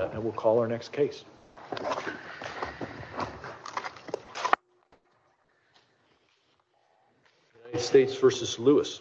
uh, and we'll call our next case States versus Lewis.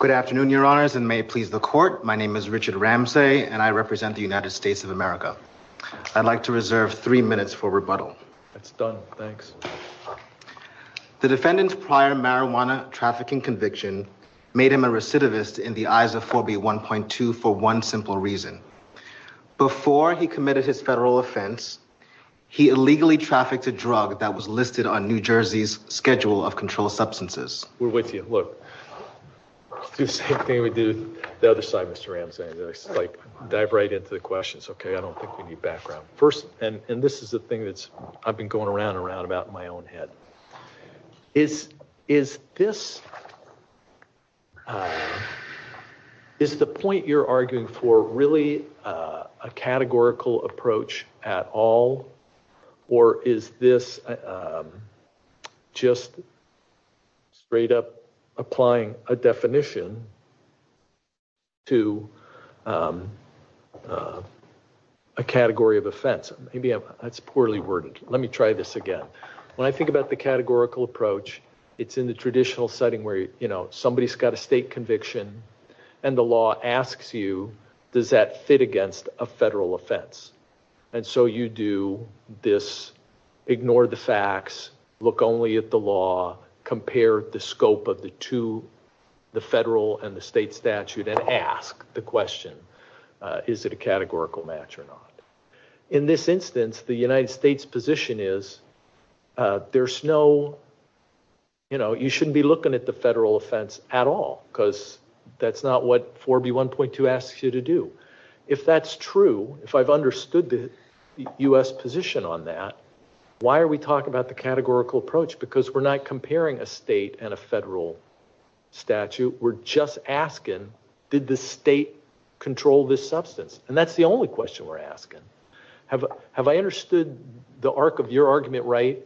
Good afternoon, your honors, and may it please the court. My name is Richard Ramsey, and I represent the United States of America. I'd like to reserve three minutes for rebuttal. It's done, thanks. The defendant's prior marijuana trafficking conviction made him a recidivist in the eyes of 4B 1.2 for one simple reason. Before he committed his federal offense, he illegally trafficked a drug that was listed on New Jersey's schedule of controlled substances. We're with you. Look, do the same thing we do the other side, Mr. Ramsey, like dive right into the questions. Okay. I don't think we need background. And this is the thing that's, I've been going around and around about in my own head is, is this, uh, is the point you're arguing for really, uh, a categorical approach at all, or is this, um, just straight up applying a definition to, um, uh, a category of offense? Maybe that's poorly worded. Let me try this again. When I think about the categorical approach, it's in the traditional setting where, you know, somebody has got a state conviction and the law asks you, does that fit against a federal offense? And so you do this, ignore the facts, look only at the law, compare the scope of the two, the federal and the state statute, and ask the question, uh, is it a categorical match or not? In this instance, the United States position is, uh, there's no, you know, you shouldn't be looking at the federal offense at all because that's not what 4B1.2 asks you to do. If that's true, if I've understood the U.S. position on that, why are we talking about the categorical approach? Because we're not comparing a state and a federal statute. We're just asking, did the state control this substance? And that's the only question we're asking. Have I understood the arc of your argument, right,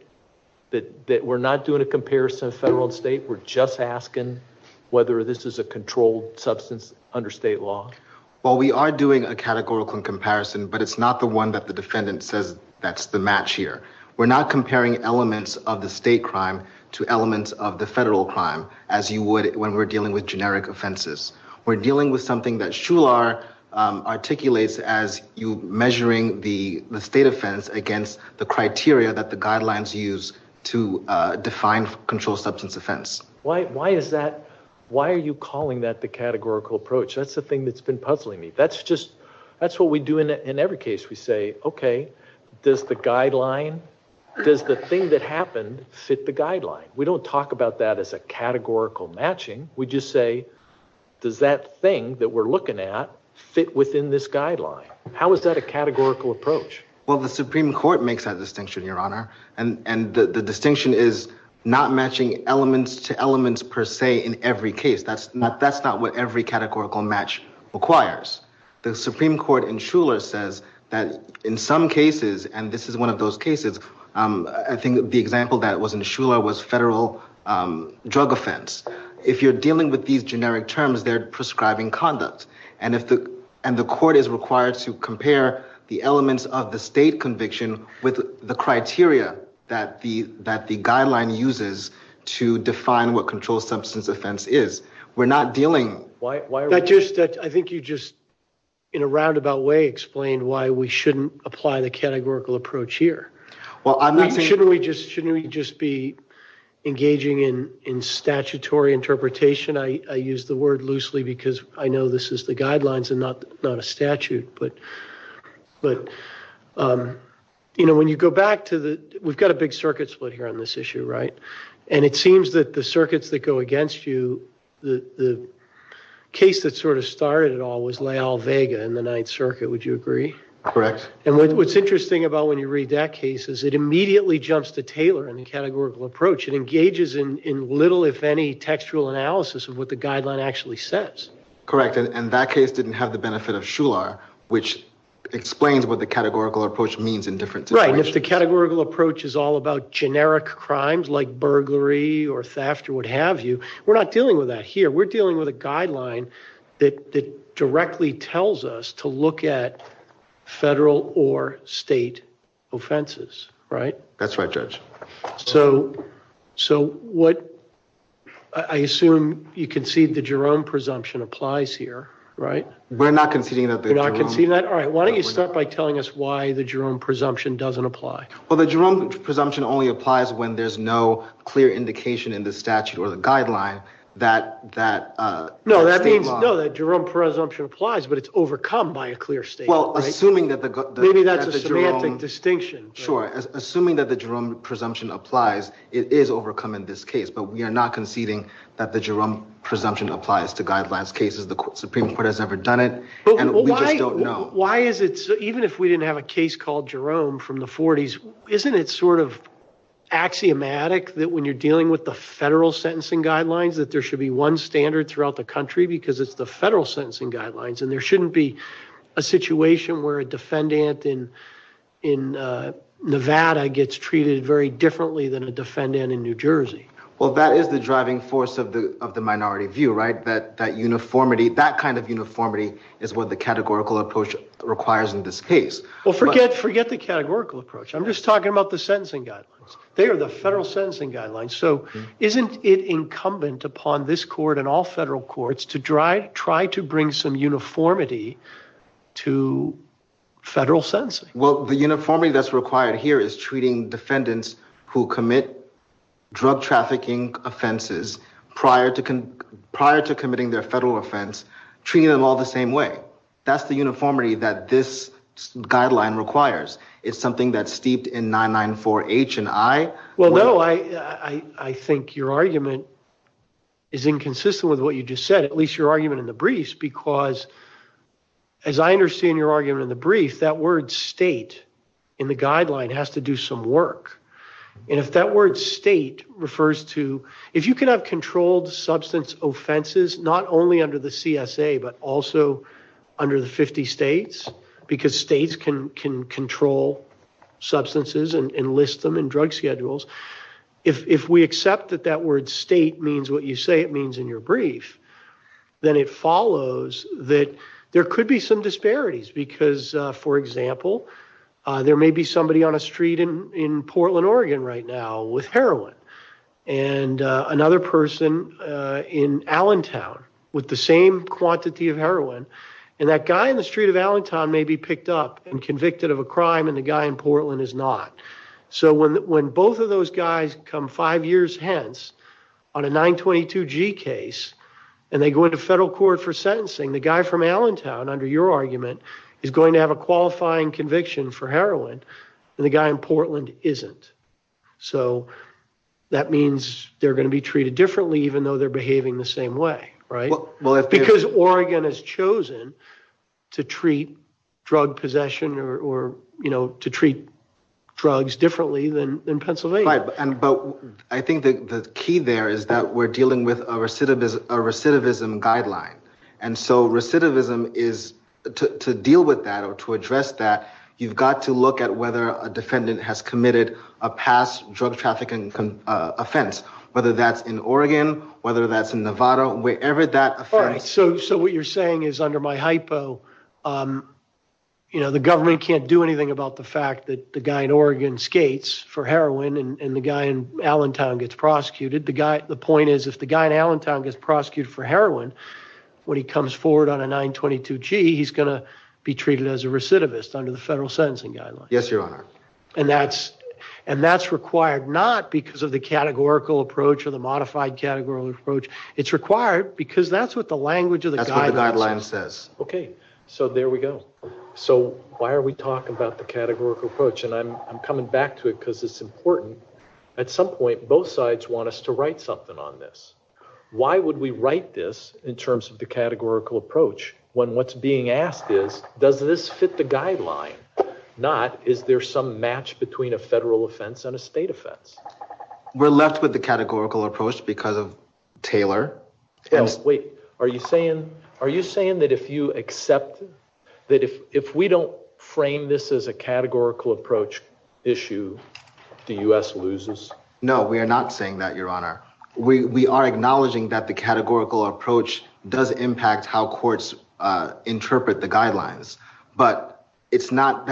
that we're not doing a comparison of federal and state? We're just asking whether this is a controlled substance under state law. Well, we are doing a categorical comparison, but it's not the one that the defendant says that's the match here. We're not comparing elements of the state crime to elements of the federal crime as you would when we're dealing with generic offenses. We're dealing with something that Shular articulates as you measuring the state offense against the criteria that the guidelines use to define controlled substance offense. Why is that? Why are you calling that the categorical approach? That's the thing that's been puzzling me. That's just, that's what we do in every case. We say, okay, does the guideline, does the thing that happened fit the guideline? We don't talk about that as a categorical matching. We just say, does that thing that we're looking at fit within this guideline? How is that a categorical approach? Well, the Supreme Court makes that distinction, Your Honor. And the distinction is not matching elements to elements per se in every case. That's not what every categorical match requires. The Supreme Court in Shular says that in some cases, and this is one of those cases, I think the example that was in Shular was federal drug offense. If you're dealing with these generic terms, they're prescribing conduct. And if the, and the court is required to compare the elements of the state conviction with the criteria that the guideline uses to define what controlled substance offense is. We're not dealing, why are we? That just, I think you just, in a roundabout way, explained why we shouldn't apply the categorical approach here. Well, I'm not saying- Shouldn't we just be engaging in statutory interpretation? I use the word loosely because I know this is the guidelines and not a statute. But, but, you know, when you go back to the, we've got a big circuit split here on this issue, right? And it seems that the circuits that go against you, the, the case that sort of started it all was Lael Vega in the Ninth Circuit. Would you agree? Correct. And what, what's interesting about when you read that case is it immediately jumps to Taylor in the categorical approach. It engages in, in little, if any, textual analysis of what the guideline actually says. Correct. And, and that case didn't have the benefit of Shular, which explains what the categorical approach means in different situations. Right. And if the categorical approach is all about generic crimes like burglary or theft or what have you, we're not dealing with that here. We're dealing with a guideline that, that directly tells us to look at federal or state offenses, right? That's right, Judge. So, so what, I assume you concede the Jerome presumption applies here, right? We're not conceding that. You're not conceding that? All right, why don't you start by telling us why the Jerome presumption doesn't apply? Well, the Jerome presumption only applies when there's no clear indication in the statute or the guideline that, that. No, that means, no, that Jerome presumption applies, but it's overcome by a clear statement. Well, assuming that the. Maybe that's a semantic distinction. Sure, assuming that the Jerome presumption applies, it is overcome in this case. But we are not conceding that the Jerome presumption applies to guidelines cases. The Supreme Court has never done it, and we just don't know. Why is it, even if we didn't have a case called Jerome from the 40s, isn't it sort of axiomatic that when you're dealing with the federal sentencing guidelines, that there should be one standard throughout the country? Because it's the federal sentencing guidelines, and there shouldn't be a situation where a defendant in Nevada gets treated very differently than a defendant in New Jersey. Well, that is the driving force of the minority view, right? That uniformity, that kind of uniformity, is what the categorical approach requires in this case. Well, forget the categorical approach. I'm just talking about the sentencing guidelines. They are the federal sentencing guidelines, so isn't it incumbent upon this court and the Supreme Court to provide some uniformity to federal sentencing? Well, the uniformity that's required here is treating defendants who commit drug trafficking offenses prior to committing their federal offense, treating them all the same way. That's the uniformity that this guideline requires. It's something that's steeped in 994H and I. Well, no, I think your argument is inconsistent with what you just said, at least your argument in the briefs, because as I understand your argument in the brief, that word state in the guideline has to do some work. And if that word state refers to, if you can have controlled substance offenses, not only under the CSA, but also under the 50 states, because states can control substances and list them in drug schedules. If we accept that that word state means what you say it means in your brief, then it follows that there could be some disparities because, for example, there may be somebody on a street in Portland, Oregon right now with heroin. And another person in Allentown with the same quantity of heroin. And that guy in the street of Allentown may be picked up and convicted of a crime and the guy in Portland is not. So when both of those guys come five years hence on a 922G case, and they go into federal court for sentencing, the guy from Allentown, under your argument, is going to have a qualifying conviction for heroin, and the guy in Portland isn't. So that means they're gonna be treated differently even though they're behaving the same way, right? Because Oregon has chosen to treat drug possession or to treat drugs differently than Pennsylvania. Right, but I think the key there is that we're dealing with a recidivism guideline. And so recidivism is, to deal with that or to address that, you've got to look at whether a defendant has committed a past drug trafficking offense, whether that's in Oregon, whether that's in Nevada, wherever that offense- So what you're saying is under my hypo, the government can't do anything about the fact that the guy in Oregon skates for heroin and the guy in Allentown gets prosecuted. The point is, if the guy in Allentown gets prosecuted for heroin, when he comes forward on a 922G, he's gonna be treated as a recidivist under the federal sentencing guideline. Yes, your honor. And that's required not because of the categorical approach or the modified categorical approach. It's required because that's what the language of the guideline says. Okay, so there we go. So why are we talking about the categorical approach? And I'm coming back to it cuz it's important. At some point, both sides want us to write something on this. Why would we write this in terms of the categorical approach, when what's being asked is, does this fit the guideline? Not, is there some match between a federal offense and a state offense? We're left with the categorical approach because of Taylor. Wait, are you saying that if you accept, that if we don't frame this as a categorical approach issue, the US loses? No, we are not saying that, your honor. We are acknowledging that the categorical approach does impact how courts interpret the guidelines. But it's not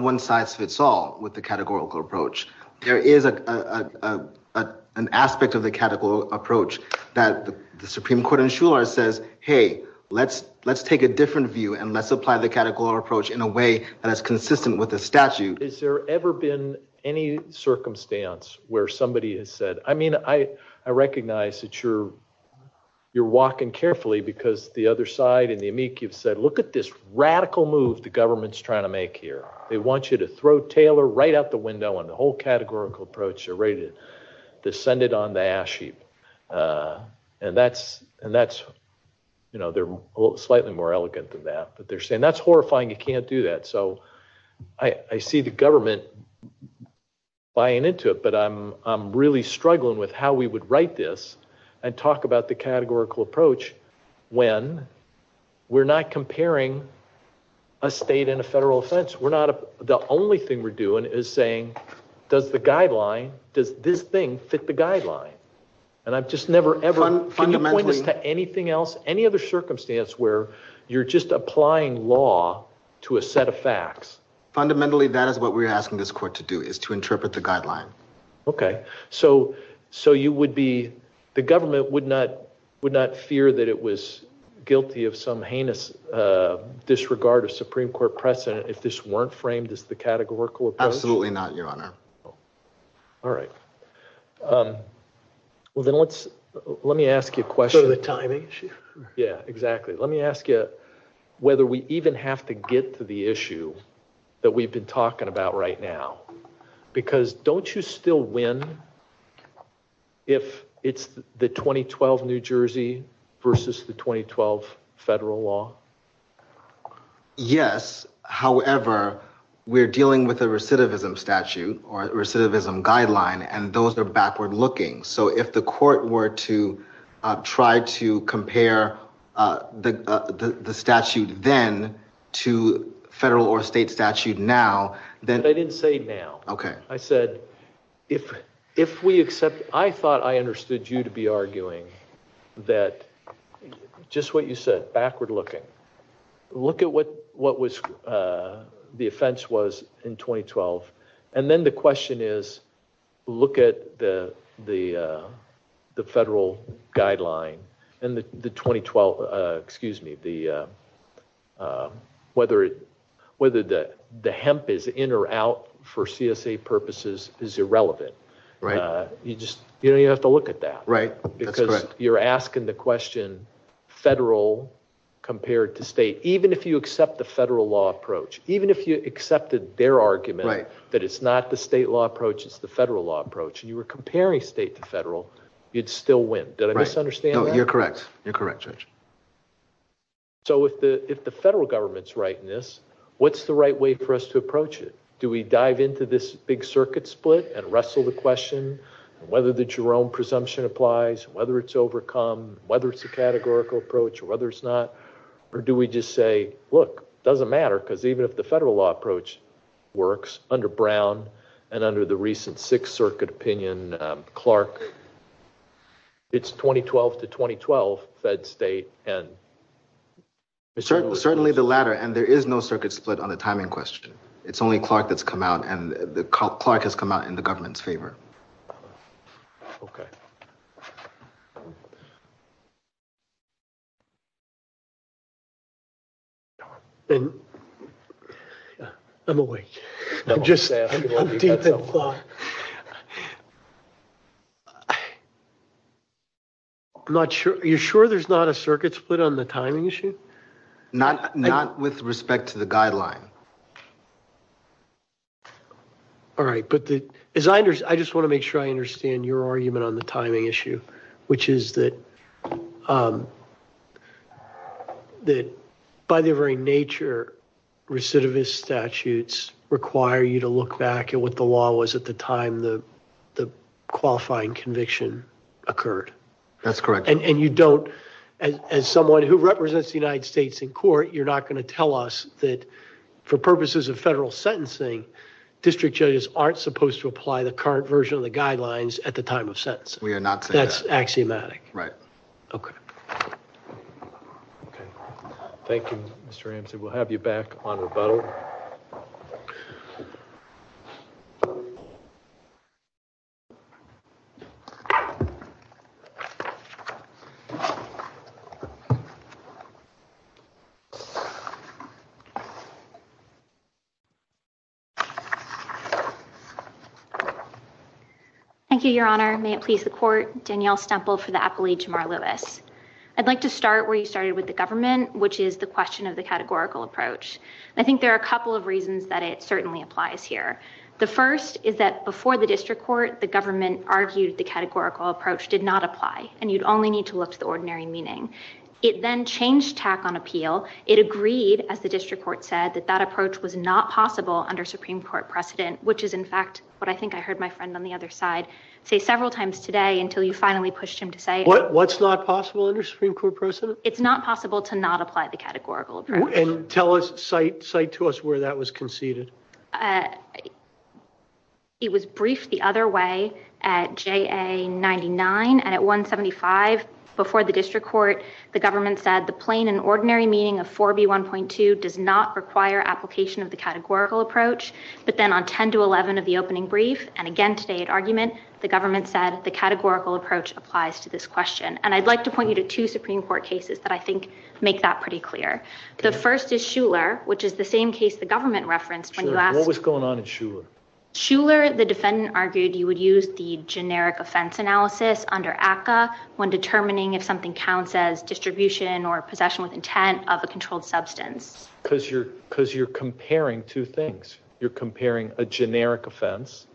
one size fits all with the categorical approach. There is an aspect of the categorical approach that the Supreme Court and Shuler says, hey, let's take a different view and let's apply the categorical approach in a way that is consistent with the statute. Is there ever been any circumstance where somebody has said, I mean, I recognize that you're walking carefully because the other side and the amici have said, look at this radical move the government's trying to make here. They want you to throw Taylor right out the window and the whole categorical approach, they're ready to send it on the ash heap. And that's, they're slightly more elegant than that, but they're saying that's horrifying, you can't do that. So I see the government buying into it, but I'm really struggling with how we would write this and talk about the categorical approach when we're not comparing a state and a federal offense. The only thing we're doing is saying, does the guideline, does this thing fit the guideline? And I've just never, ever, can you point us to anything else, any other circumstance where you're just applying law to a set of facts? Fundamentally, that is what we're asking this court to do, is to interpret the guideline. Okay, so the government would not fear that it was weren't framed as the categorical approach? Absolutely not, your honor. All right, well then let's, let me ask you a question. So the timing issue? Yeah, exactly. Let me ask you whether we even have to get to the issue that we've been talking about right now. Because don't you still win if it's the 2012 New Jersey versus the 2012 federal law? Yes, however, we're dealing with a recidivism statute or recidivism guideline and those are backward looking. So if the court were to try to compare the statute then to federal or state statute now, then- But I didn't say now. Okay. I said, if we accept, I thought I understood you to be arguing that just what you said, backward looking. Look at what was, the offense was in 2012. And then the question is, look at the federal guideline and the 2012, excuse me, whether the hemp is in or out for CSA purposes is irrelevant. Right. You just, you don't even have to look at that. Right. Because you're asking the question federal compared to state, even if you accept the federal law approach, even if you accepted their argument, that it's not the state law approach, it's the federal law approach. And you were comparing state to federal, you'd still win. Did I misunderstand that? No, you're correct. You're correct, Judge. So if the federal government's right in this, what's the right way for us to approach it? Do we dive into this big circuit split and wrestle the question whether the Jerome presumption applies, whether it's overcome, whether it's a categorical approach, whether it's not, or do we just say, look, it doesn't matter because even if the federal law approach works under Brown and under the recent Sixth Circuit opinion, Clark, it's 2012 to 2012, fed, state, and. Certainly the latter. And there is no circuit split on the timing question. out in the government's favor. Okay. I'm awake. I'm just, I'm deep in thought. I'm not sure. Are you sure there's not a circuit split on the timing issue? Not with respect to the guideline. All right. But the, as I understand, I just want to make sure I understand your argument on the timing issue, which is that, that by their very nature, recidivist statutes require you to look back at what the law was at the time the qualifying conviction occurred. That's correct. And you don't, as someone who represents the United States in court, you're not going to tell us that for purposes of federal sentencing, district judges aren't supposed to apply the current version of the guidelines at the time of sentence. We are not saying that. That's axiomatic. Right. Okay. Okay. Thank you, Mr. Ramsey. We'll have you back on rebuttal. Thank you, Your Honor. May it please the court. Danielle Stemple for the appellee, Jamar Lewis. I'd like to start where you started with the government, which is the question of the categorical approach. I think there are a couple of reasons that it certainly applies here. The first is that before the district court, the government argued the categorical approach did not apply, and you'd only need to look to the ordinary meaning. It then changed tack on appeal. It agreed, as the district court said, that that approach was not possible under Supreme Court law. Which is, in fact, what I think I heard my friend on the other side say several times today until you finally pushed him to say- What's not possible under Supreme Court precedent? It's not possible to not apply the categorical approach. And tell us, cite to us where that was conceded. It was briefed the other way at JA99, and at 175, before the district court, the government said the plain and ordinary meaning of 4B1.2 does not require application of the categorical approach. But then on 10-11 of the opening brief, and again today at argument, the government said the categorical approach applies to this question. And I'd like to point you to two Supreme Court cases that I think make that pretty clear. The first is Shuler, which is the same case the government referenced- Sure, what was going on in Shuler? Shuler, the defendant argued, you would use the generic offense analysis under ACCA when determining if something counts as distribution or possession with intent of a controlled substance. Because you're comparing two things. You're comparing a generic offense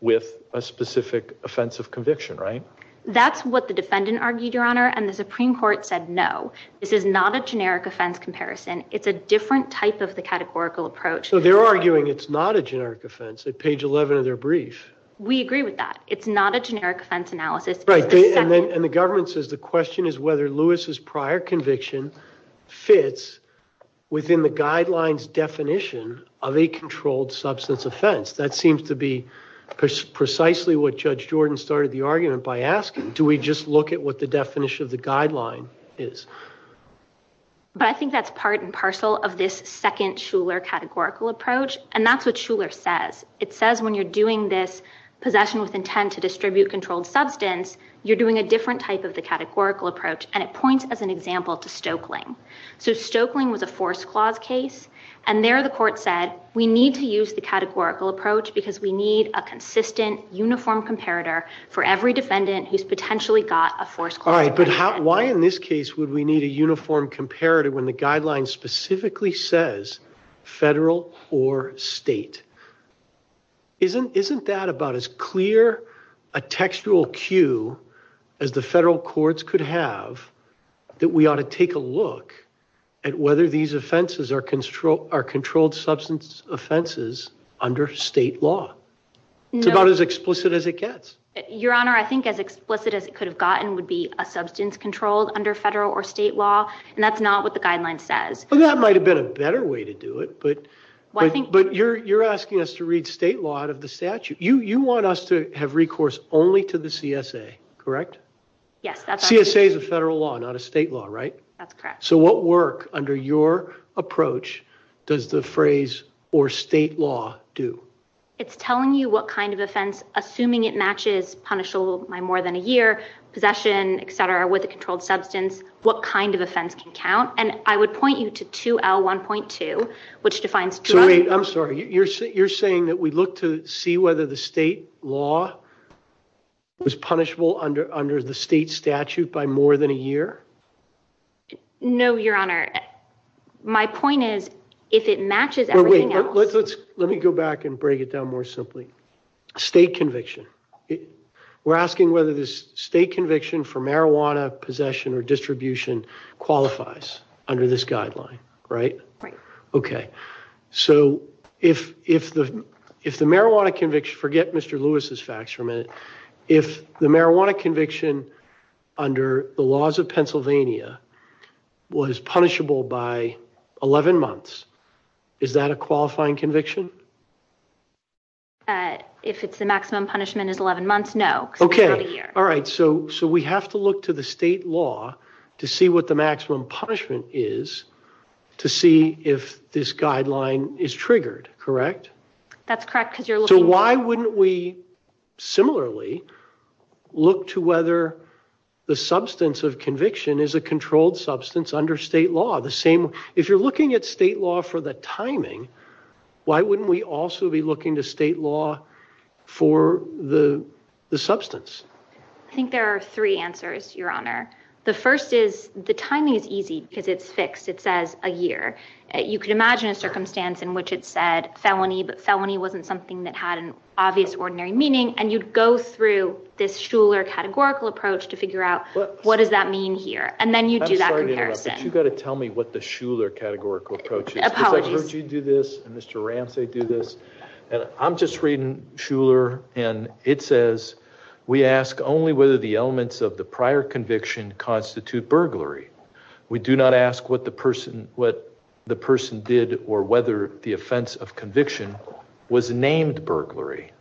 with a specific offense of conviction, right? That's what the defendant argued, Your Honor, and the Supreme Court said no. This is not a generic offense comparison. It's a different type of the categorical approach. So they're arguing it's not a generic offense at page 11 of their brief. We agree with that. It's not a generic offense analysis. Right, and the government says the question is whether Lewis's prior conviction fits within the guideline's definition of a controlled substance offense. That seems to be precisely what Judge Jordan started the argument by asking. Do we just look at what the definition of the guideline is? But I think that's part and parcel of this second Shuler categorical approach, and that's what Shuler says. It says when you're doing this possession with intent to distribute controlled substance, you're doing a different type of the categorical approach, and it points as an example to Stoeckling. So Stoeckling was a force clause case, and there the court said we need to use the categorical approach because we need a consistent uniform comparator for every defendant who's potentially got a force clause. All right, but why in this case would we need a uniform comparator when the guideline specifically says federal or state? Isn't that about as clear a textual cue as the federal courts could have that we ought to take a look at whether these offenses are controlled substance offenses under state law? It's about as explicit as it gets. Your Honor, I think as explicit as it could have gotten would be a substance controlled under federal or state law, and that's not what the guideline says. Well, that might have been a better way to do it, but you're asking us to read state law out of the statute. You want us to have recourse only to the CSA, correct? Yes, that's what I'm doing. CSA is a federal law, not a state law, right? That's correct. So what work under your approach does the phrase or state law do? It's telling you what kind of offense, assuming it matches punishable by more than a year, possession, et cetera, with a controlled substance, what kind of offense can count, and I would point you to 2L1.2, which defines two other- I'm sorry, you're saying that we look to see whether the state law was punishable under the state statute by more than a year? No, Your Honor. My point is, if it matches everything else- Well, wait, let me go back and break it down more simply. State conviction. We're asking whether this state conviction for marijuana possession or distribution qualifies under this guideline, right? Right. Okay, so if the marijuana conviction, forget Mr. Lewis's facts for a minute, if the marijuana conviction under the laws of Pennsylvania was punishable by 11 months, is that a qualifying conviction? If it's the maximum punishment is 11 months, no. Okay, all right, so we have to look to the state law to see what the maximum punishment is to see if this guideline is triggered, correct? That's correct, because you're looking- So why wouldn't we similarly look to whether the substance of conviction is a controlled substance under state law? If you're looking at state law for the timing, why wouldn't we also be looking to state law for the substance? I think there are three answers, Your Honor. The first is the timing is easy because it's fixed. It says a year. You could imagine a circumstance in which it said felony, but felony wasn't something that had an obvious ordinary meaning, and you'd go through this Shuler categorical approach to figure out what does that mean here? And then you do that comparison. I'm sorry to interrupt, but you gotta tell me what the Shuler categorical approach is. Apologies. Because I've heard you do this, and Mr. Ramsey do this, and I'm just reading Shuler, and it says, we ask only whether the elements of the prior conviction constitute burglary. We do not ask what the person did or whether the offense of conviction was named burglary.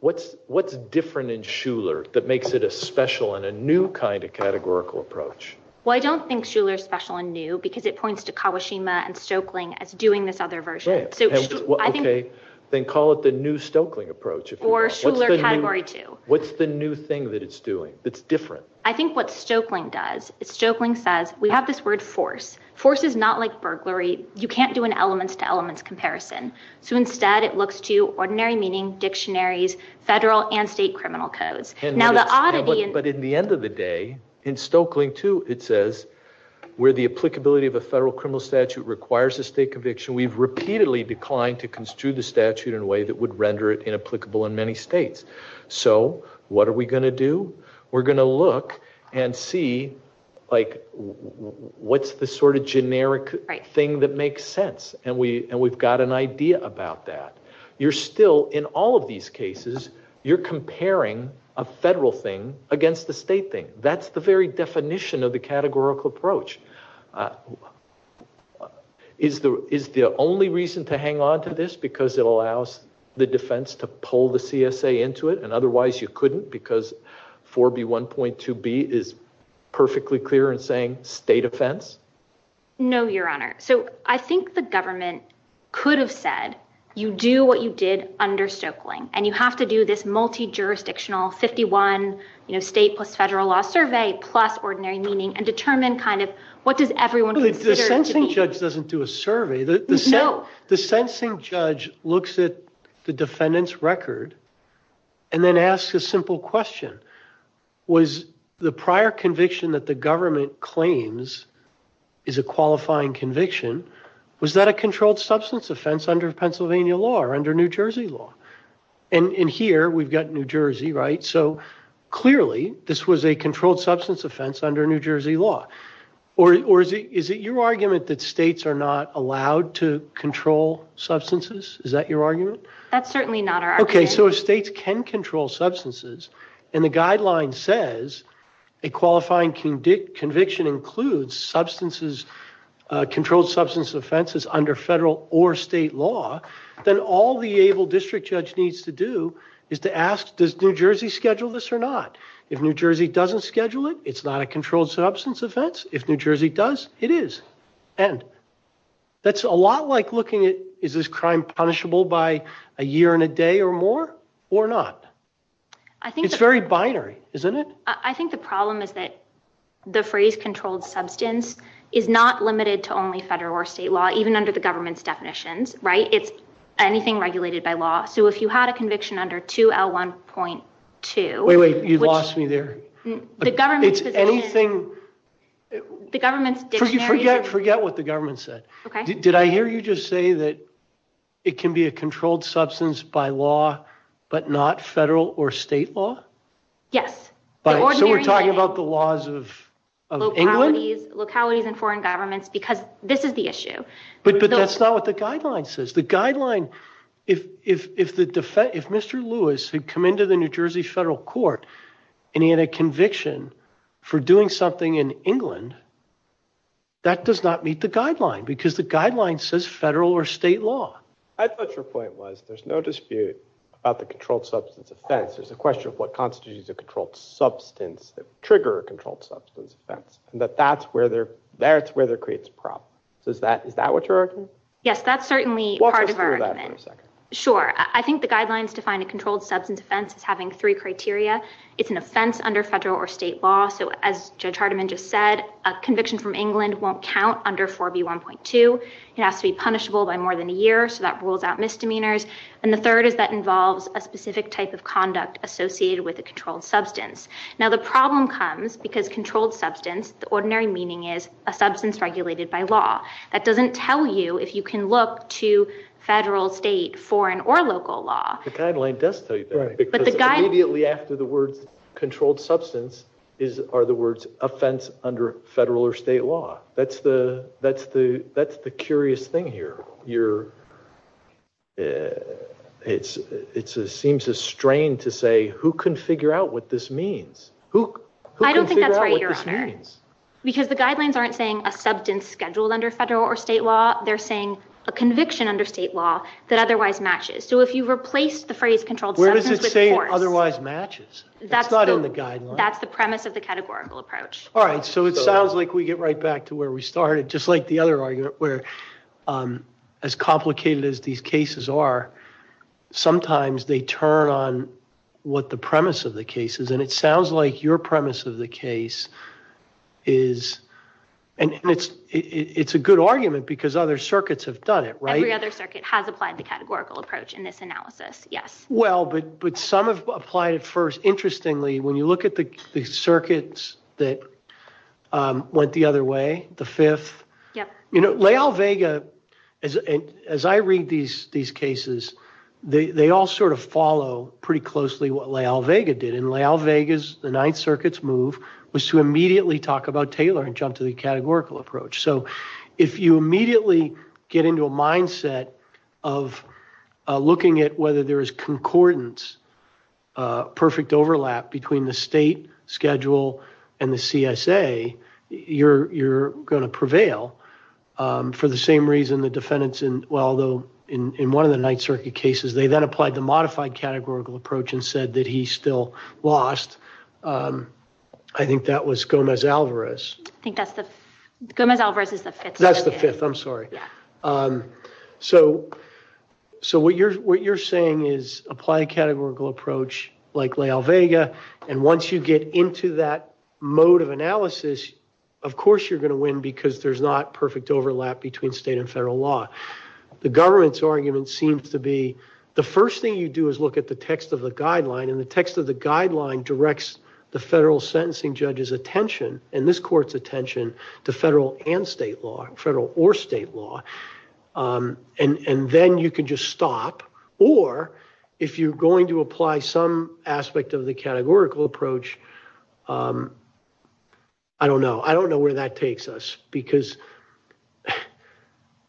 What's different in Shuler that makes it a special and a new kind of categorical approach? Well, I don't think Shuler's special and new because it points to Kawashima and Stoeckling as doing this other version, so I think- Okay, then call it the new Stoeckling approach. Or Shuler category two. What's the new thing that it's doing that's different? I think what Stoeckling does is Stoeckling says, we have this word force. Force is not like burglary. You can't do an elements to elements comparison. So instead, it looks to ordinary meaning, dictionaries, federal and state criminal codes. Now the oddity- But in the end of the day, in Stoeckling too, it says where the applicability of a federal criminal statute requires a state conviction, we've repeatedly declined to construe the statute in a way that would render it inapplicable in many states. So what are we gonna do? We're gonna look and see like, what's the sort of generic thing that makes sense? And we've got an idea about that. You're still, in all of these cases, you're comparing a federal thing against the state thing. That's the very definition of the categorical approach. Is the only reason to hang onto this because it allows the defense to pull the CSA into it and otherwise you couldn't because 4B1.2B is perfectly clear in saying state offense? No, Your Honor. So I think the government could have said, you do what you did under Stoeckling and you have to do this multi-jurisdictional 51, state plus federal law survey plus ordinary meaning and determine kind of what does everyone consider- The sensing judge doesn't do a survey. No. The sensing judge looks at the defendant's record and then asks a simple question. Was the prior conviction that the government claims is a qualifying conviction, was that a controlled substance offense under Pennsylvania law or under New Jersey law? And here we've got New Jersey, right? So clearly this was a controlled substance offense under New Jersey law. Or is it your argument that states are not allowed to control substances? Is that your argument? That's certainly not our argument. Okay, so if states can control substances and the guideline says a qualifying conviction includes controlled substance offenses under federal or state law, then all the able district judge needs to do is to ask, does New Jersey schedule this or not? If New Jersey doesn't schedule it, it's not a controlled substance offense. If New Jersey does, it is. And that's a lot like looking at, is this crime punishable by a year and a day or more or not? I think- It's very binary, isn't it? I think the problem is that the phrase controlled substance is not limited to only federal or state law, even under the government's definitions, right? It's anything regulated by law. So if you had a conviction under 2L1.2- Wait, wait, you lost me there. The government's position- It's anything- The government's dictionary- Forget what the government said. Okay. Did I hear you just say that it can be a controlled substance by law, but not federal or state law? Yes. So we're talking about the laws of England? Localities and foreign governments, because this is the issue. But that's not what the guideline says. The guideline, if Mr. Lewis had come into the New Jersey federal court and he had a conviction for doing something in England, that does not meet the guideline because the guideline says federal or state law. I thought your point was, there's no dispute about the controlled substance offense. There's a question of what constitutes a controlled substance that trigger a controlled substance offense, and that that's where it creates a problem. So is that what you're arguing? Yes, that's certainly part of our argument. Sure. I think the guidelines define a controlled substance offense as having three criteria. It's an offense under federal or state law. So as Judge Hardiman just said, a conviction from England won't count under 4B1.2. It has to be punishable by more than a year, so that rules out misdemeanors. And the third is that involves a specific type of conduct associated with a controlled substance. Now the problem comes because controlled substance, the ordinary meaning is a substance regulated by law. That doesn't tell you if you can look to federal, state, foreign, or local law. The guideline does tell you that, because immediately after the words controlled substance are the words offense under federal or state law. That's the curious thing here. You're, it seems a strain to say, who can figure out what this means? Who can figure out what this means? I don't think that's right, Your Honor. Because the guidelines aren't saying a substance scheduled under federal or state law. They're saying a conviction under state law that otherwise matches. So if you replaced the phrase controlled substance with force. Where does it say otherwise matches? That's not on the guidelines. That's the premise of the categorical approach. All right, so it sounds like we get right back to where we started. Just like the other argument, where as complicated as these cases are, sometimes they turn on what the premise of the case is. And it sounds like your premise of the case is, and it's a good argument, because other circuits have done it, right? Every other circuit has applied the categorical approach in this analysis, yes. Well, but some have applied it first. Interestingly, when you look at the circuits that went the other way, the fifth. Yep. You know, Lael Vega, as I read these cases, they all sort of follow pretty closely what Lael Vega did. And Lael Vega's, the Ninth Circuit's move was to immediately talk about Taylor and jump to the categorical approach. So if you immediately get into a mindset of looking at whether there is concordance, perfect overlap between the state schedule and the CSA, you're gonna prevail. For the same reason the defendants in, well, in one of the Ninth Circuit cases, they then applied the modified categorical approach and said that he still lost. I think that was Gomez-Alvarez. I think that's the, Gomez-Alvarez is the fifth. That's the fifth, I'm sorry. Yeah. So what you're saying is apply a categorical approach like Lael Vega and once you get into that mode of analysis, of course you're gonna win because there's not perfect overlap between state and federal law. The government's argument seems to be, the first thing you do is look at the text of the guideline and the text of the guideline directs the federal sentencing judge's attention and this court's attention to federal and state law, and then you can just stop or if you're going to apply some aspect of the categorical approach, I don't know. I don't know where that takes us because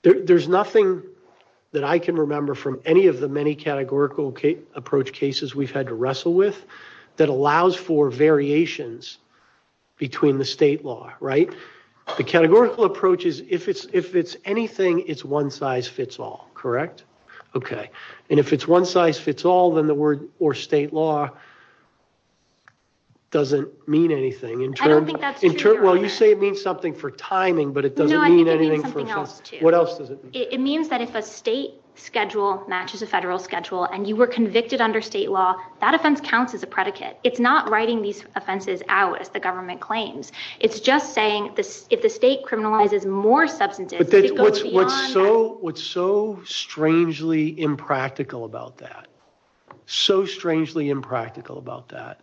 there's nothing that I can remember from any of the many categorical approach cases we've had to wrestle with that allows for variations between the state law, right? The categorical approach is if it's anything, it's one size fits all, correct? Okay. And if it's one size fits all, then the word or state law doesn't mean anything. I don't think that's true. Well, you say it means something for timing, but it doesn't mean anything for, what else does it mean? It means that if a state schedule matches a federal schedule and you were convicted under state law, that offense counts as a predicate. It's not writing these offenses out as the government claims. It's just saying if the state criminalizes more substances, it goes beyond that. What's so strangely impractical about that, so strangely impractical about that,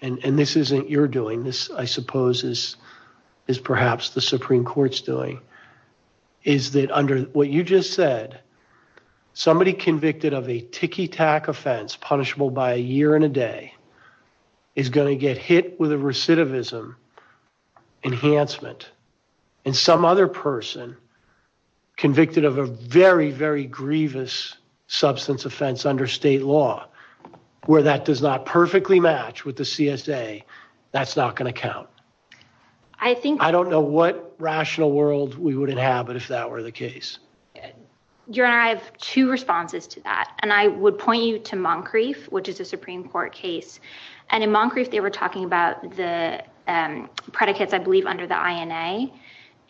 and this isn't your doing, this I suppose is perhaps the Supreme Court's doing, is that under what you just said, somebody convicted of a ticky-tack offense punishable by a year and a day is gonna get hit with a recidivism enhancement. And some other person convicted of a very, very grievous substance offense under state law, where that does not perfectly match with the CSA, that's not gonna count. I don't know what rational world we would inhabit if that were the case. Your Honor, I have two responses to that. And I would point you to Moncrief, which is a Supreme Court case. And in Moncrief, they were talking about the predicates, I believe, under the INA.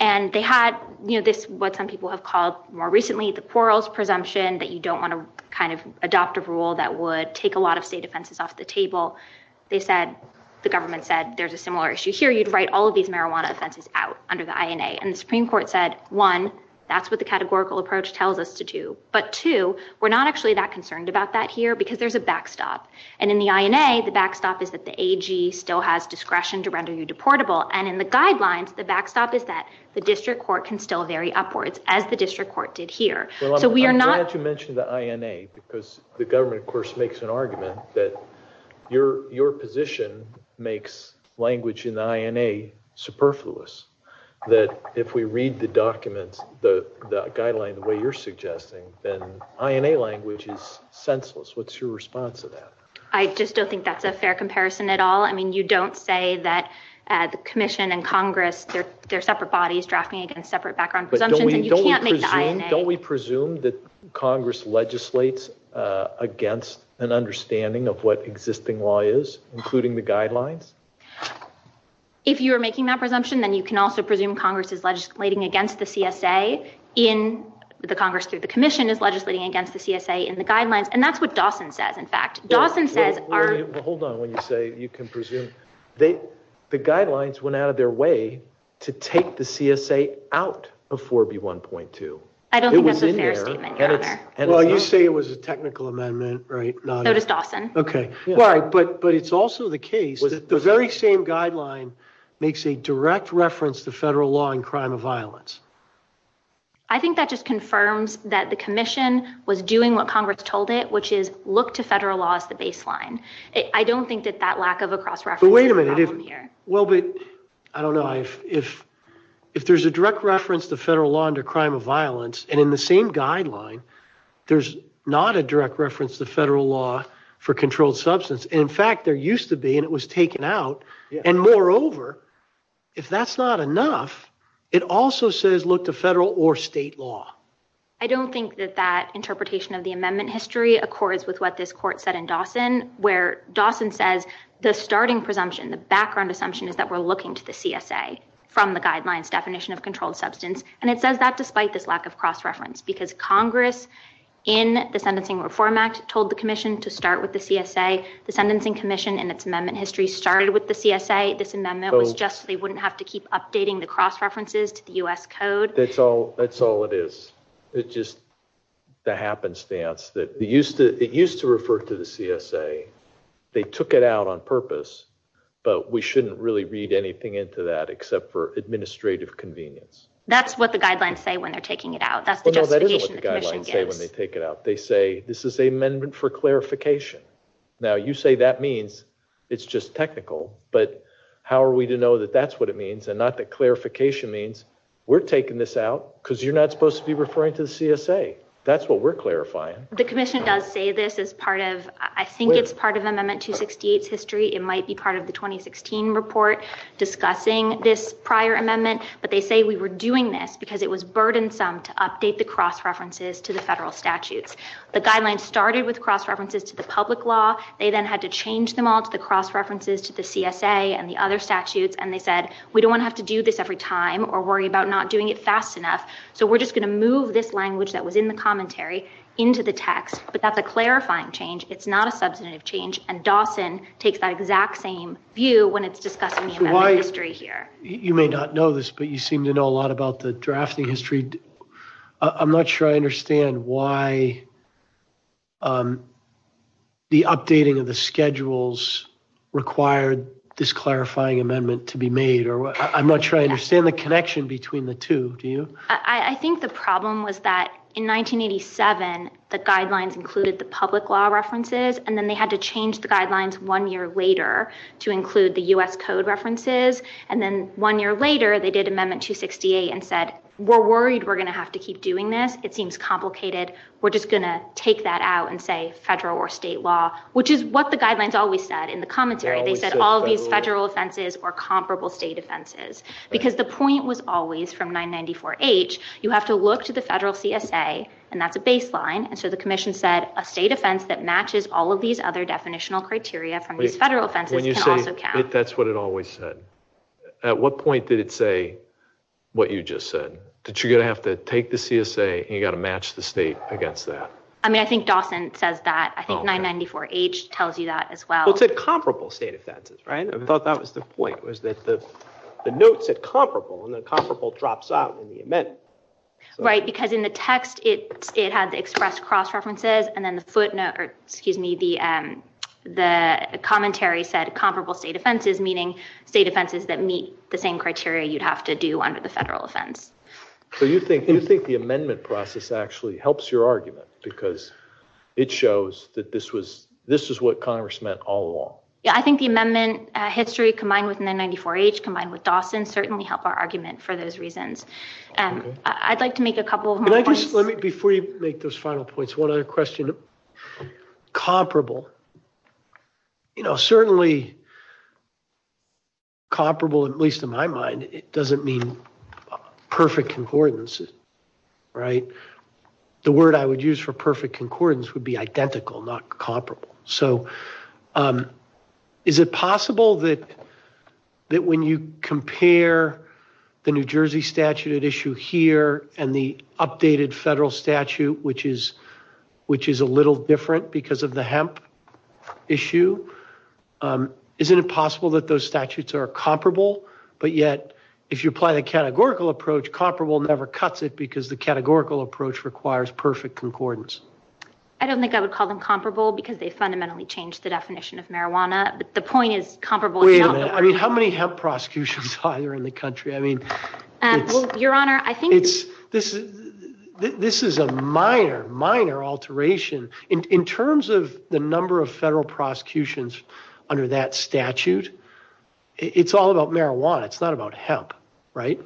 And they had this, what some people have called more recently, the quarrels presumption that you don't wanna kind of adopt a rule that would take a lot of state offenses off the table. They said, the government said, there's a similar issue here, you'd write all of these marijuana offenses out under the INA. And the Supreme Court said, one, that's what the categorical approach tells us to do. But two, we're not actually that concerned about that here because there's a backstop. And in the INA, the backstop is that the AG still has discretion to render you deportable. And in the guidelines, the backstop is that the district court can still vary upwards as the district court did here. So we are not- I'm glad you mentioned the INA because the government, of course, makes an argument that your position makes language in the INA superfluous. the guideline the way you're suggesting, then INA language is senseless. What's your response to that? I just don't think that's a fair comparison at all. I mean, you don't say that the commission and Congress, they're separate bodies drafting against separate background presumptions. And you can't make the INA- Don't we presume that Congress legislates against an understanding of what existing law is, including the guidelines? If you are making that presumption, then you can also presume Congress is legislating against the CSA in the Congress through the commission is legislating against the CSA in the guidelines. And that's what Dawson says. In fact, Dawson says- Hold on when you say you can presume. The guidelines went out of their way to take the CSA out of 4B1.2. I don't think that's a fair statement, Your Honor. Well, you say it was a technical amendment, right? Not as Dawson. Okay, but it's also the case that the very same guideline makes a direct reference to federal law and crime of violence. I think that just confirms that the commission was doing what Congress told it, which is look to federal law as the baseline. I don't think that that lack of a cross-reference is a problem here. Well, but I don't know if there's a direct reference to federal law under crime of violence, and in the same guideline, there's not a direct reference to federal law for controlled substance. And in fact, there used to be, and it was taken out. And moreover, if that's not enough, it also says look to federal or state law. I don't think that that interpretation of the amendment history accords with what this court said in Dawson, where Dawson says the starting presumption, the background assumption, is that we're looking to the CSA from the guidelines definition of controlled substance. And it says that despite this lack of cross-reference because Congress, in the Sentencing Reform Act, told the commission to start with the CSA. The Sentencing Commission, in its amendment history, started with the CSA. This amendment was just so they wouldn't have to keep updating the cross-references to the U.S. Code. That's all it is. It's just the happenstance. It used to refer to the CSA. They took it out on purpose, but we shouldn't really read anything into that except for administrative convenience. That's what the guidelines say when they're taking it out. That's the justification the commission gives. No, that isn't what the guidelines say when they take it out. They say this is an amendment for clarification. Now, you say that means it's just technical, but how are we to know that that's what it means and not that clarification means we're taking this out because you're not supposed to be referring to the CSA? That's what we're clarifying. The commission does say this as part of, I think it's part of Amendment 268's history. It might be part of the 2016 report discussing this prior amendment, but they say we were doing this because it was burdensome to update the cross-references to the federal statutes. The guidelines started with cross-references to the public law. They then had to change them all to the cross-references to the CSA and the other statutes, and they said, we don't want to have to do this every time or worry about not doing it fast enough. So we're just going to move this language that was in the commentary into the text, but that's a clarifying change. It's not a substantive change, and Dawson takes that exact same view when it's discussing the history here. You may not know this, but you seem to know a lot about the drafting history. I'm not sure I understand why the updating of the schedules required this clarifying amendment to be made, or I'm not sure I understand the connection between the two, do you? I think the problem was that in 1987, the guidelines included the public law references, and then they had to change the guidelines one year later to include the U.S. Code references, and then one year later, they did Amendment 268 and said, we're worried we're going to have to keep doing this. It seems complicated. We're just going to take that out and say federal or state law, which is what the guidelines always said in the commentary. They said all of these federal offenses or comparable state offenses, because the point was always from 994H, you have to look to the federal CSA, and that's a baseline, and so the commission said a state offense that matches all of these other definitional criteria from these federal offenses can also count. That's what it always said. At what point did it say what you just said, that you're going to have to take the CSA and you got to match the state against that? I mean, I think Dawson says that. I think 994H tells you that as well. Well, it said comparable state offenses, right? I thought that was the point, was that the note said comparable, and then comparable drops out in the amendment. Right, because in the text, it had the expressed cross-references, and then the footnote, or excuse me, the commentary said comparable state offenses, meaning state offenses that meet the same criteria you'd have to do under the federal offense. So you think the amendment process actually helps your argument, because it shows that this was, this is what Congress meant all along. Yeah, I think the amendment history, combined with 994H, combined with Dawson, certainly help our argument for those reasons. I'd like to make a couple of more points. Before you make those final points, one other question, comparable. You know, certainly comparable, at least in my mind, it doesn't mean perfect concordance, right? The word I would use for perfect concordance would be identical, not comparable. So is it possible that when you compare the New Jersey statute at issue here, and the updated federal statute, which is a little different because of the hemp issue, isn't it possible that those statutes are comparable, but yet, if you apply the categorical approach, comparable never cuts it, because the categorical approach requires perfect concordance? I don't think I would call them comparable, because they fundamentally changed the definition of marijuana, but the point is comparable. Wait a minute, I mean, how many hemp prosecutions are there in the country? I mean, it's- Well, Your Honor, I think- This is a minor, minor alteration. In terms of the number of federal prosecutions under that statute, it's all about marijuana. It's not about hemp, right?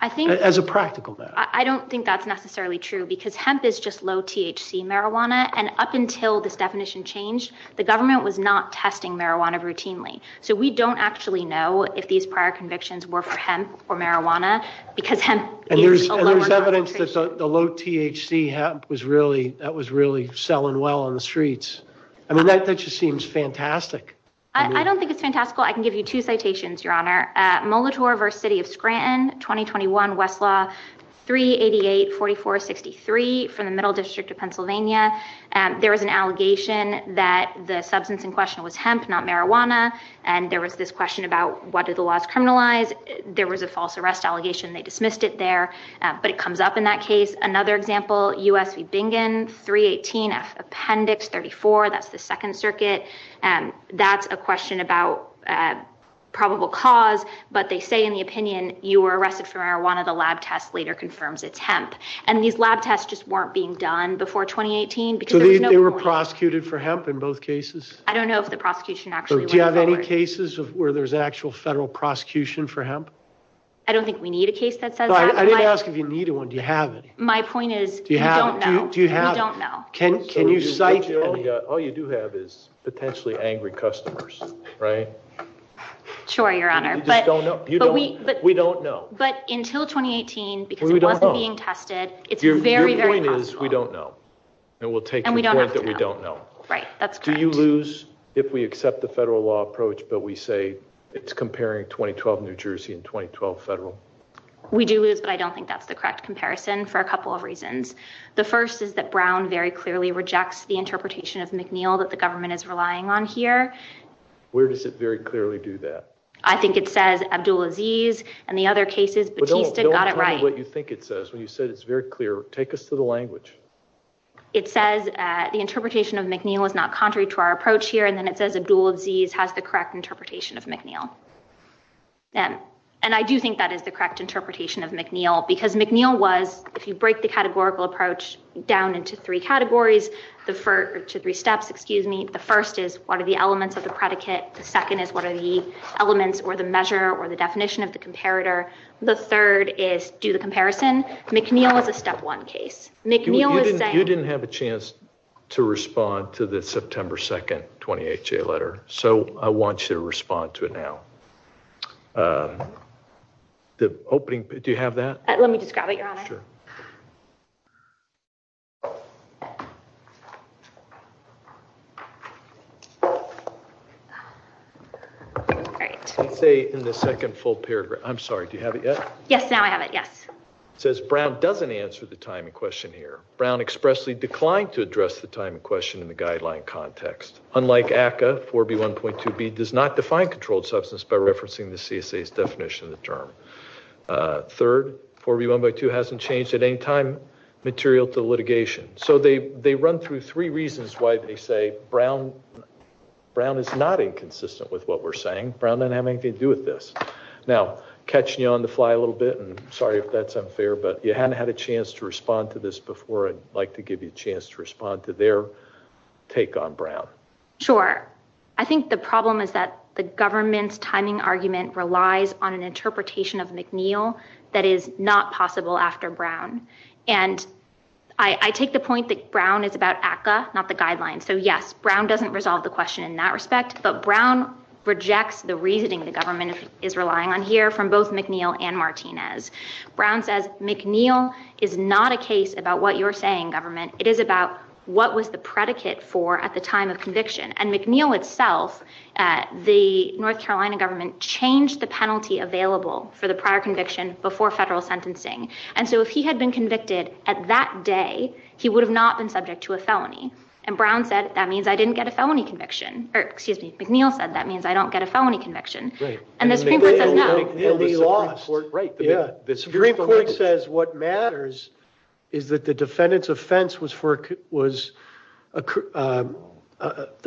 I think- As a practical matter. I don't think that's necessarily true, because hemp is just low THC marijuana, and up until this definition changed, the government was not testing marijuana routinely, so we don't actually know if these prior convictions were for hemp or marijuana, because hemp- And there's evidence that the low THC hemp was really selling well on the streets. I mean, that just seems fantastic. I don't think it's fantastical. I can give you two citations, Your Honor. Molitor v. City of Scranton, 2021, Westlaw 3884463 from the Middle District of Pennsylvania, there was an allegation that the substance in question was hemp, not marijuana, and there was this question about what do the laws criminalize? There was a false arrest allegation. They dismissed it there, but it comes up in that case. Another example, US v. Bingen, 318 F Appendix 34. That's the Second Circuit. That's a question about probable cause, but they say in the opinion, you were arrested for marijuana. The lab test later confirms it's hemp. And these lab tests just weren't being done before 2018, because there was no warning. So they were prosecuted for hemp in both cases? I don't know if the prosecution actually went forward. Do you have any cases where there's actual federal prosecution for hemp? I don't think we need a case that says that. I didn't ask if you need one. Do you have any? My point is, we don't know. Do you have any? We don't know. Can you cite any? All you do have is potentially angry customers, right? Sure, Your Honor. But we don't know. But until 2018, because it wasn't being tested, it's very, very possible. Your point is, we don't know. And we'll take the point that we don't know. Right, that's correct. Do you lose if we accept the federal law approach, but we say it's comparing 2012 New Jersey and 2012 federal? We do lose, but I don't think that's the correct comparison for a couple of reasons. The first is that Brown very clearly rejects the interpretation of McNeil that the government is relying on here. Where does it very clearly do that? I think it says Abdulaziz and the other cases. But don't tell me what you think it says. When you said it's very clear, take us to the language. It says the interpretation of McNeil is not contrary to our approach here. And then it says Abdulaziz has the correct interpretation of McNeil. And I do think that is the correct interpretation of McNeil because McNeil was, if you break the categorical approach down into three categories, the first, or two, three steps, excuse me. The first is what are the elements of the predicate? The second is what are the elements or the measure or the definition of the comparator? The third is do the comparison? McNeil is a step one case. McNeil is saying- You didn't have a chance to respond to the September 2nd 28-J letter. So I want you to respond to it now. The opening, do you have that? Let me just grab it, Your Honor. Sure. All right. Let's say in the second full paragraph, I'm sorry, do you have it yet? Yes, now I have it, yes. It says Brown doesn't answer the time in question here. Brown expressly declined to address the time in question in the guideline context. Unlike ACCA, 4B1.2b does not define controlled substance by referencing the CSA's definition of the term. Third, 4B1.2 hasn't changed at any time material to litigation. So they run through three reasons why they say Brown is not inconsistent with what we're saying. Brown doesn't have anything to do with this. Now, catching you on the fly a little bit, sorry if that's unfair, but you hadn't had a chance to respond to this before. I'd like to give you a chance to respond to their take on Brown. Sure. I think the problem is that the government's timing argument relies on an interpretation of McNeil that is not possible after Brown. And I take the point that Brown is about ACCA, not the guidelines. So yes, Brown doesn't resolve the question in that respect, but Brown rejects the reasoning the government is relying on here from both McNeil and Martinez. Brown says McNeil is not a case about what you're saying, government. It is about what was the predicate for at the time of conviction. And McNeil itself, the North Carolina government changed the penalty available for the prior conviction before federal sentencing. And so if he had been convicted at that day, he would have not been subject to a felony. And Brown said, that means I didn't get a felony conviction. Or excuse me, McNeil said, that means I don't get a felony conviction. And the Supreme Court says no. And McNeil is the Supreme Court. Right. The Supreme Court says what matters is that the defendant's offense was for, was the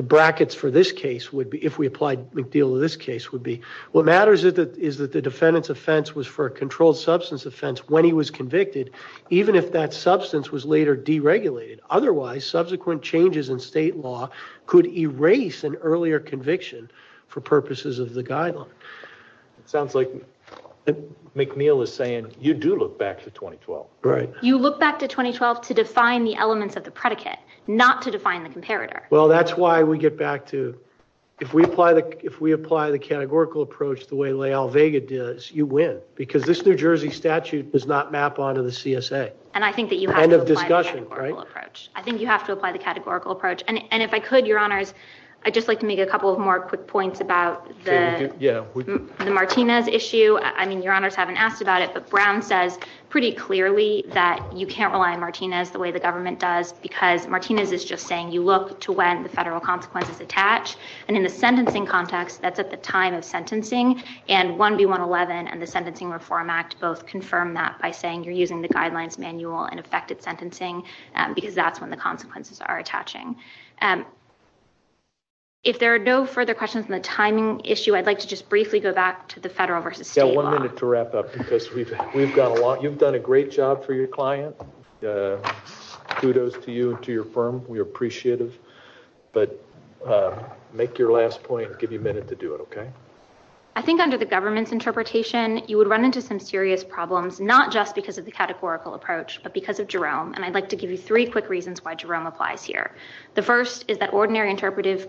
brackets for this case would be, if we applied McNeil to this case would be, what matters is that the defendant's offense was for a controlled substance offense when he was convicted, even if that substance was later deregulated. Otherwise, subsequent changes in state law could erase an earlier conviction for purposes of the guideline. Sounds like McNeil is saying, you do look back to 2012. Right. You look back to 2012 to define the elements of the predicate, not to define the comparator. Well, that's why we get back to, if we apply the categorical approach the way Lael Vega does, you win. Because this New Jersey statute does not map onto the CSA. And I think that you have to apply the categorical approach. I think you have to apply the categorical approach. And if I could, your honors, I'd just like to make a couple of more quick points about the Martinez issue. I mean, your honors haven't asked about it, but Brown says pretty clearly that you can't rely on Martinez the way the government does because Martinez is just saying, you look to when the federal consequences attach. And in the sentencing context, that's at the time of sentencing. And 1B111 and the Sentencing Reform Act both confirm that by saying, you're using the guidelines manual and effective sentencing because that's when the consequences are attaching. If there are no further questions on the timing issue, I'd like to just briefly go back to the federal versus state law. Yeah, one minute to wrap up because we've got a lot, you've done a great job for your client. Kudos to you and to your firm, we are appreciative. But make your last point, give you a minute to do it, okay? I think under the government's interpretation, you would run into some serious problems, not just because of the categorical approach, but because of Jerome. And I'd like to give you three quick reasons why Jerome applies here. The first is that ordinary interpretive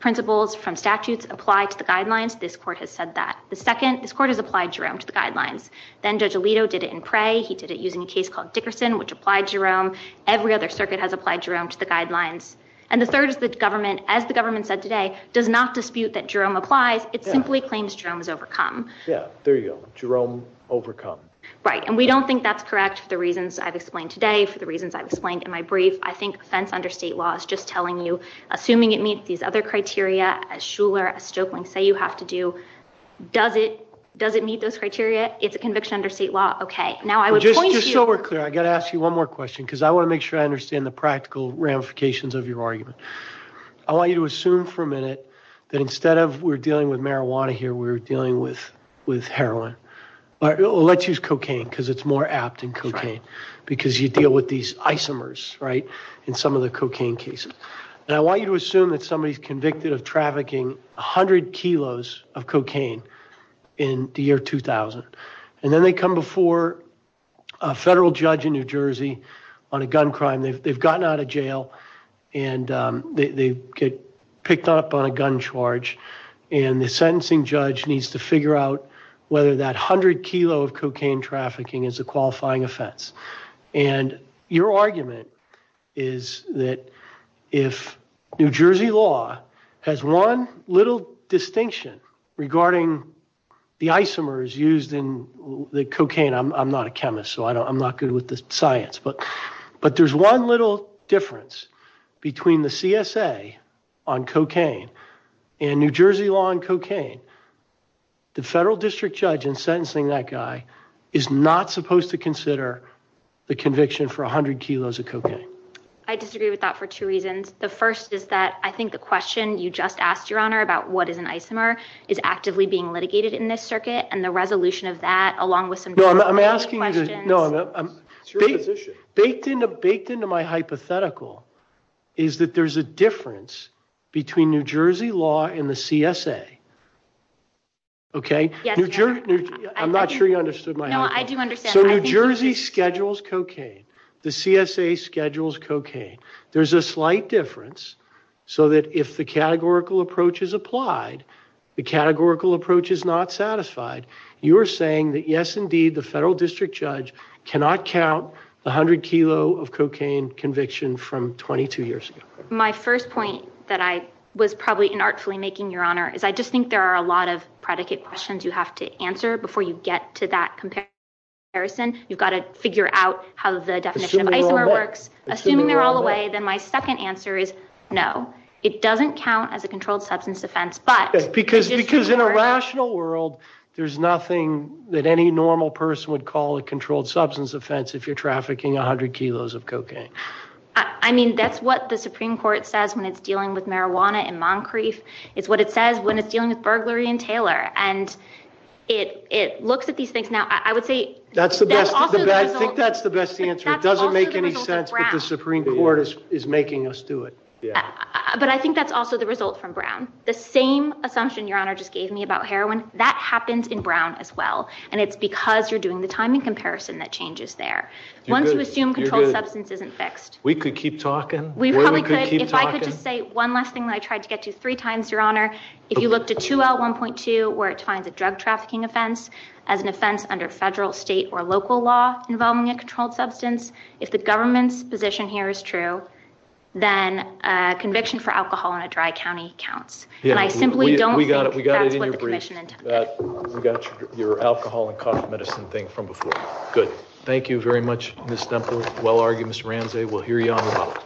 principles from statutes apply to the guidelines. This court has said that. The second, this court has applied Jerome to the guidelines. Then Judge Alito did it in prey. He did it using a case called Dickerson, which applied Jerome. Every other circuit has applied Jerome to the guidelines. And the third is that government, as the government said today, does not dispute that Jerome applies. It simply claims Jerome is overcome. Yeah, there you go, Jerome overcome. Right, and we don't think that's correct for the reasons I've explained today, for the reasons I've explained in my brief. I think offense under state law is just telling you, assuming it meets these other criteria, as Shuler, as Stoeckling say you have to do, does it meet those criteria? It's a conviction under state law. Okay, now I would point to you- Just so we're clear, I got to ask you one more question, because I want to make sure I understand the practical ramifications of your argument. I want you to assume for a minute that instead of we're dealing with marijuana here, we're dealing with heroin, or let's use cocaine, because it's more apt in cocaine, because you deal with these isomers, right, in some of the cocaine cases. And I want you to assume that somebody's convicted of trafficking 100 kilos of cocaine in the year 2000, and then they come before a federal judge in New Jersey on a gun crime, they've gotten out of jail, and they get picked up on a gun charge, and the sentencing judge needs to figure out whether that 100 kilo of cocaine trafficking is a qualifying offense. And your argument is that if New Jersey law has one little distinction regarding the isomers used in the cocaine, I'm not a chemist, so I'm not good with the science, but there's one little difference between the CSA on cocaine and New Jersey law on cocaine. The federal district judge in sentencing that guy is not supposed to consider the conviction for 100 kilos of cocaine. I disagree with that for two reasons. The first is that I think the question you just asked, Your Honor, about what is an isomer is actively being litigated in this circuit, and the resolution of that, along with some general questions. No, I'm asking you to, no, I'm, baked into my hypothetical is that there's a difference between New Jersey law and the CSA, okay? Yes, Your Honor. I'm not sure you understood my hypothetical. No, I do understand. So New Jersey schedules cocaine. The CSA schedules cocaine. There's a slight difference so that if the categorical approach is applied, the categorical approach is not satisfied. You are saying that, yes, indeed, the federal district judge cannot count 100 kilo of cocaine conviction from 22 years ago. My first point that I was probably inartfully making, Your Honor, is I just think there are a lot of predicate questions you have to answer before you get to that comparison. You've got to figure out how the definition of isomer works. Assuming they're all the way, then my second answer is no. It doesn't count as a controlled substance offense, but. Because in a rational world, there's nothing that any normal person would call a controlled substance offense if you're trafficking 100 kilos of cocaine. I mean, that's what the Supreme Court says when it's dealing with marijuana in Moncrief. It's what it says when it's dealing with burglary in Taylor. And it looks at these things. Now, I would say. That's the best, I think that's the best answer. It doesn't make any sense, but the Supreme Court is making us do it. But I think that's also the result from Brown. The same assumption Your Honor just gave me about heroin, that happens in Brown as well. And it's because you're doing the timing comparison that changes there. Once you assume controlled substance isn't fixed. We could keep talking. We probably could. If I could just say one last thing that I tried to get to three times, Your Honor. If you look to 2L1.2, where it defines a drug trafficking offense as an offense under federal, state, or local law involving a controlled substance. If the government's position here is true, then conviction for alcohol in a dry county counts. And I simply don't think that's what the commission intended. We got your alcohol and cough medicine thing from before. Good. Thank you very much, Ms. Stemple. Well argued, Mr. Ramsey. We'll hear you on the ballot.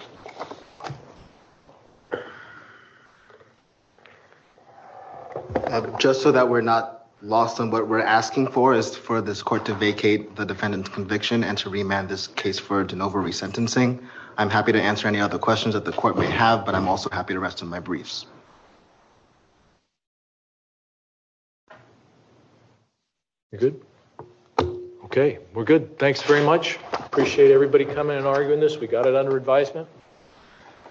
Just so that we're not lost on what we're asking for is for this court to vacate the defendant's conviction and to remand this case for de novo resentencing. I'm happy to answer any other questions that the court may have, but I'm also happy to rest on my briefs. You're good? Okay, we're good. Thanks very much. Appreciate everybody coming and arguing this. We got it under advisement.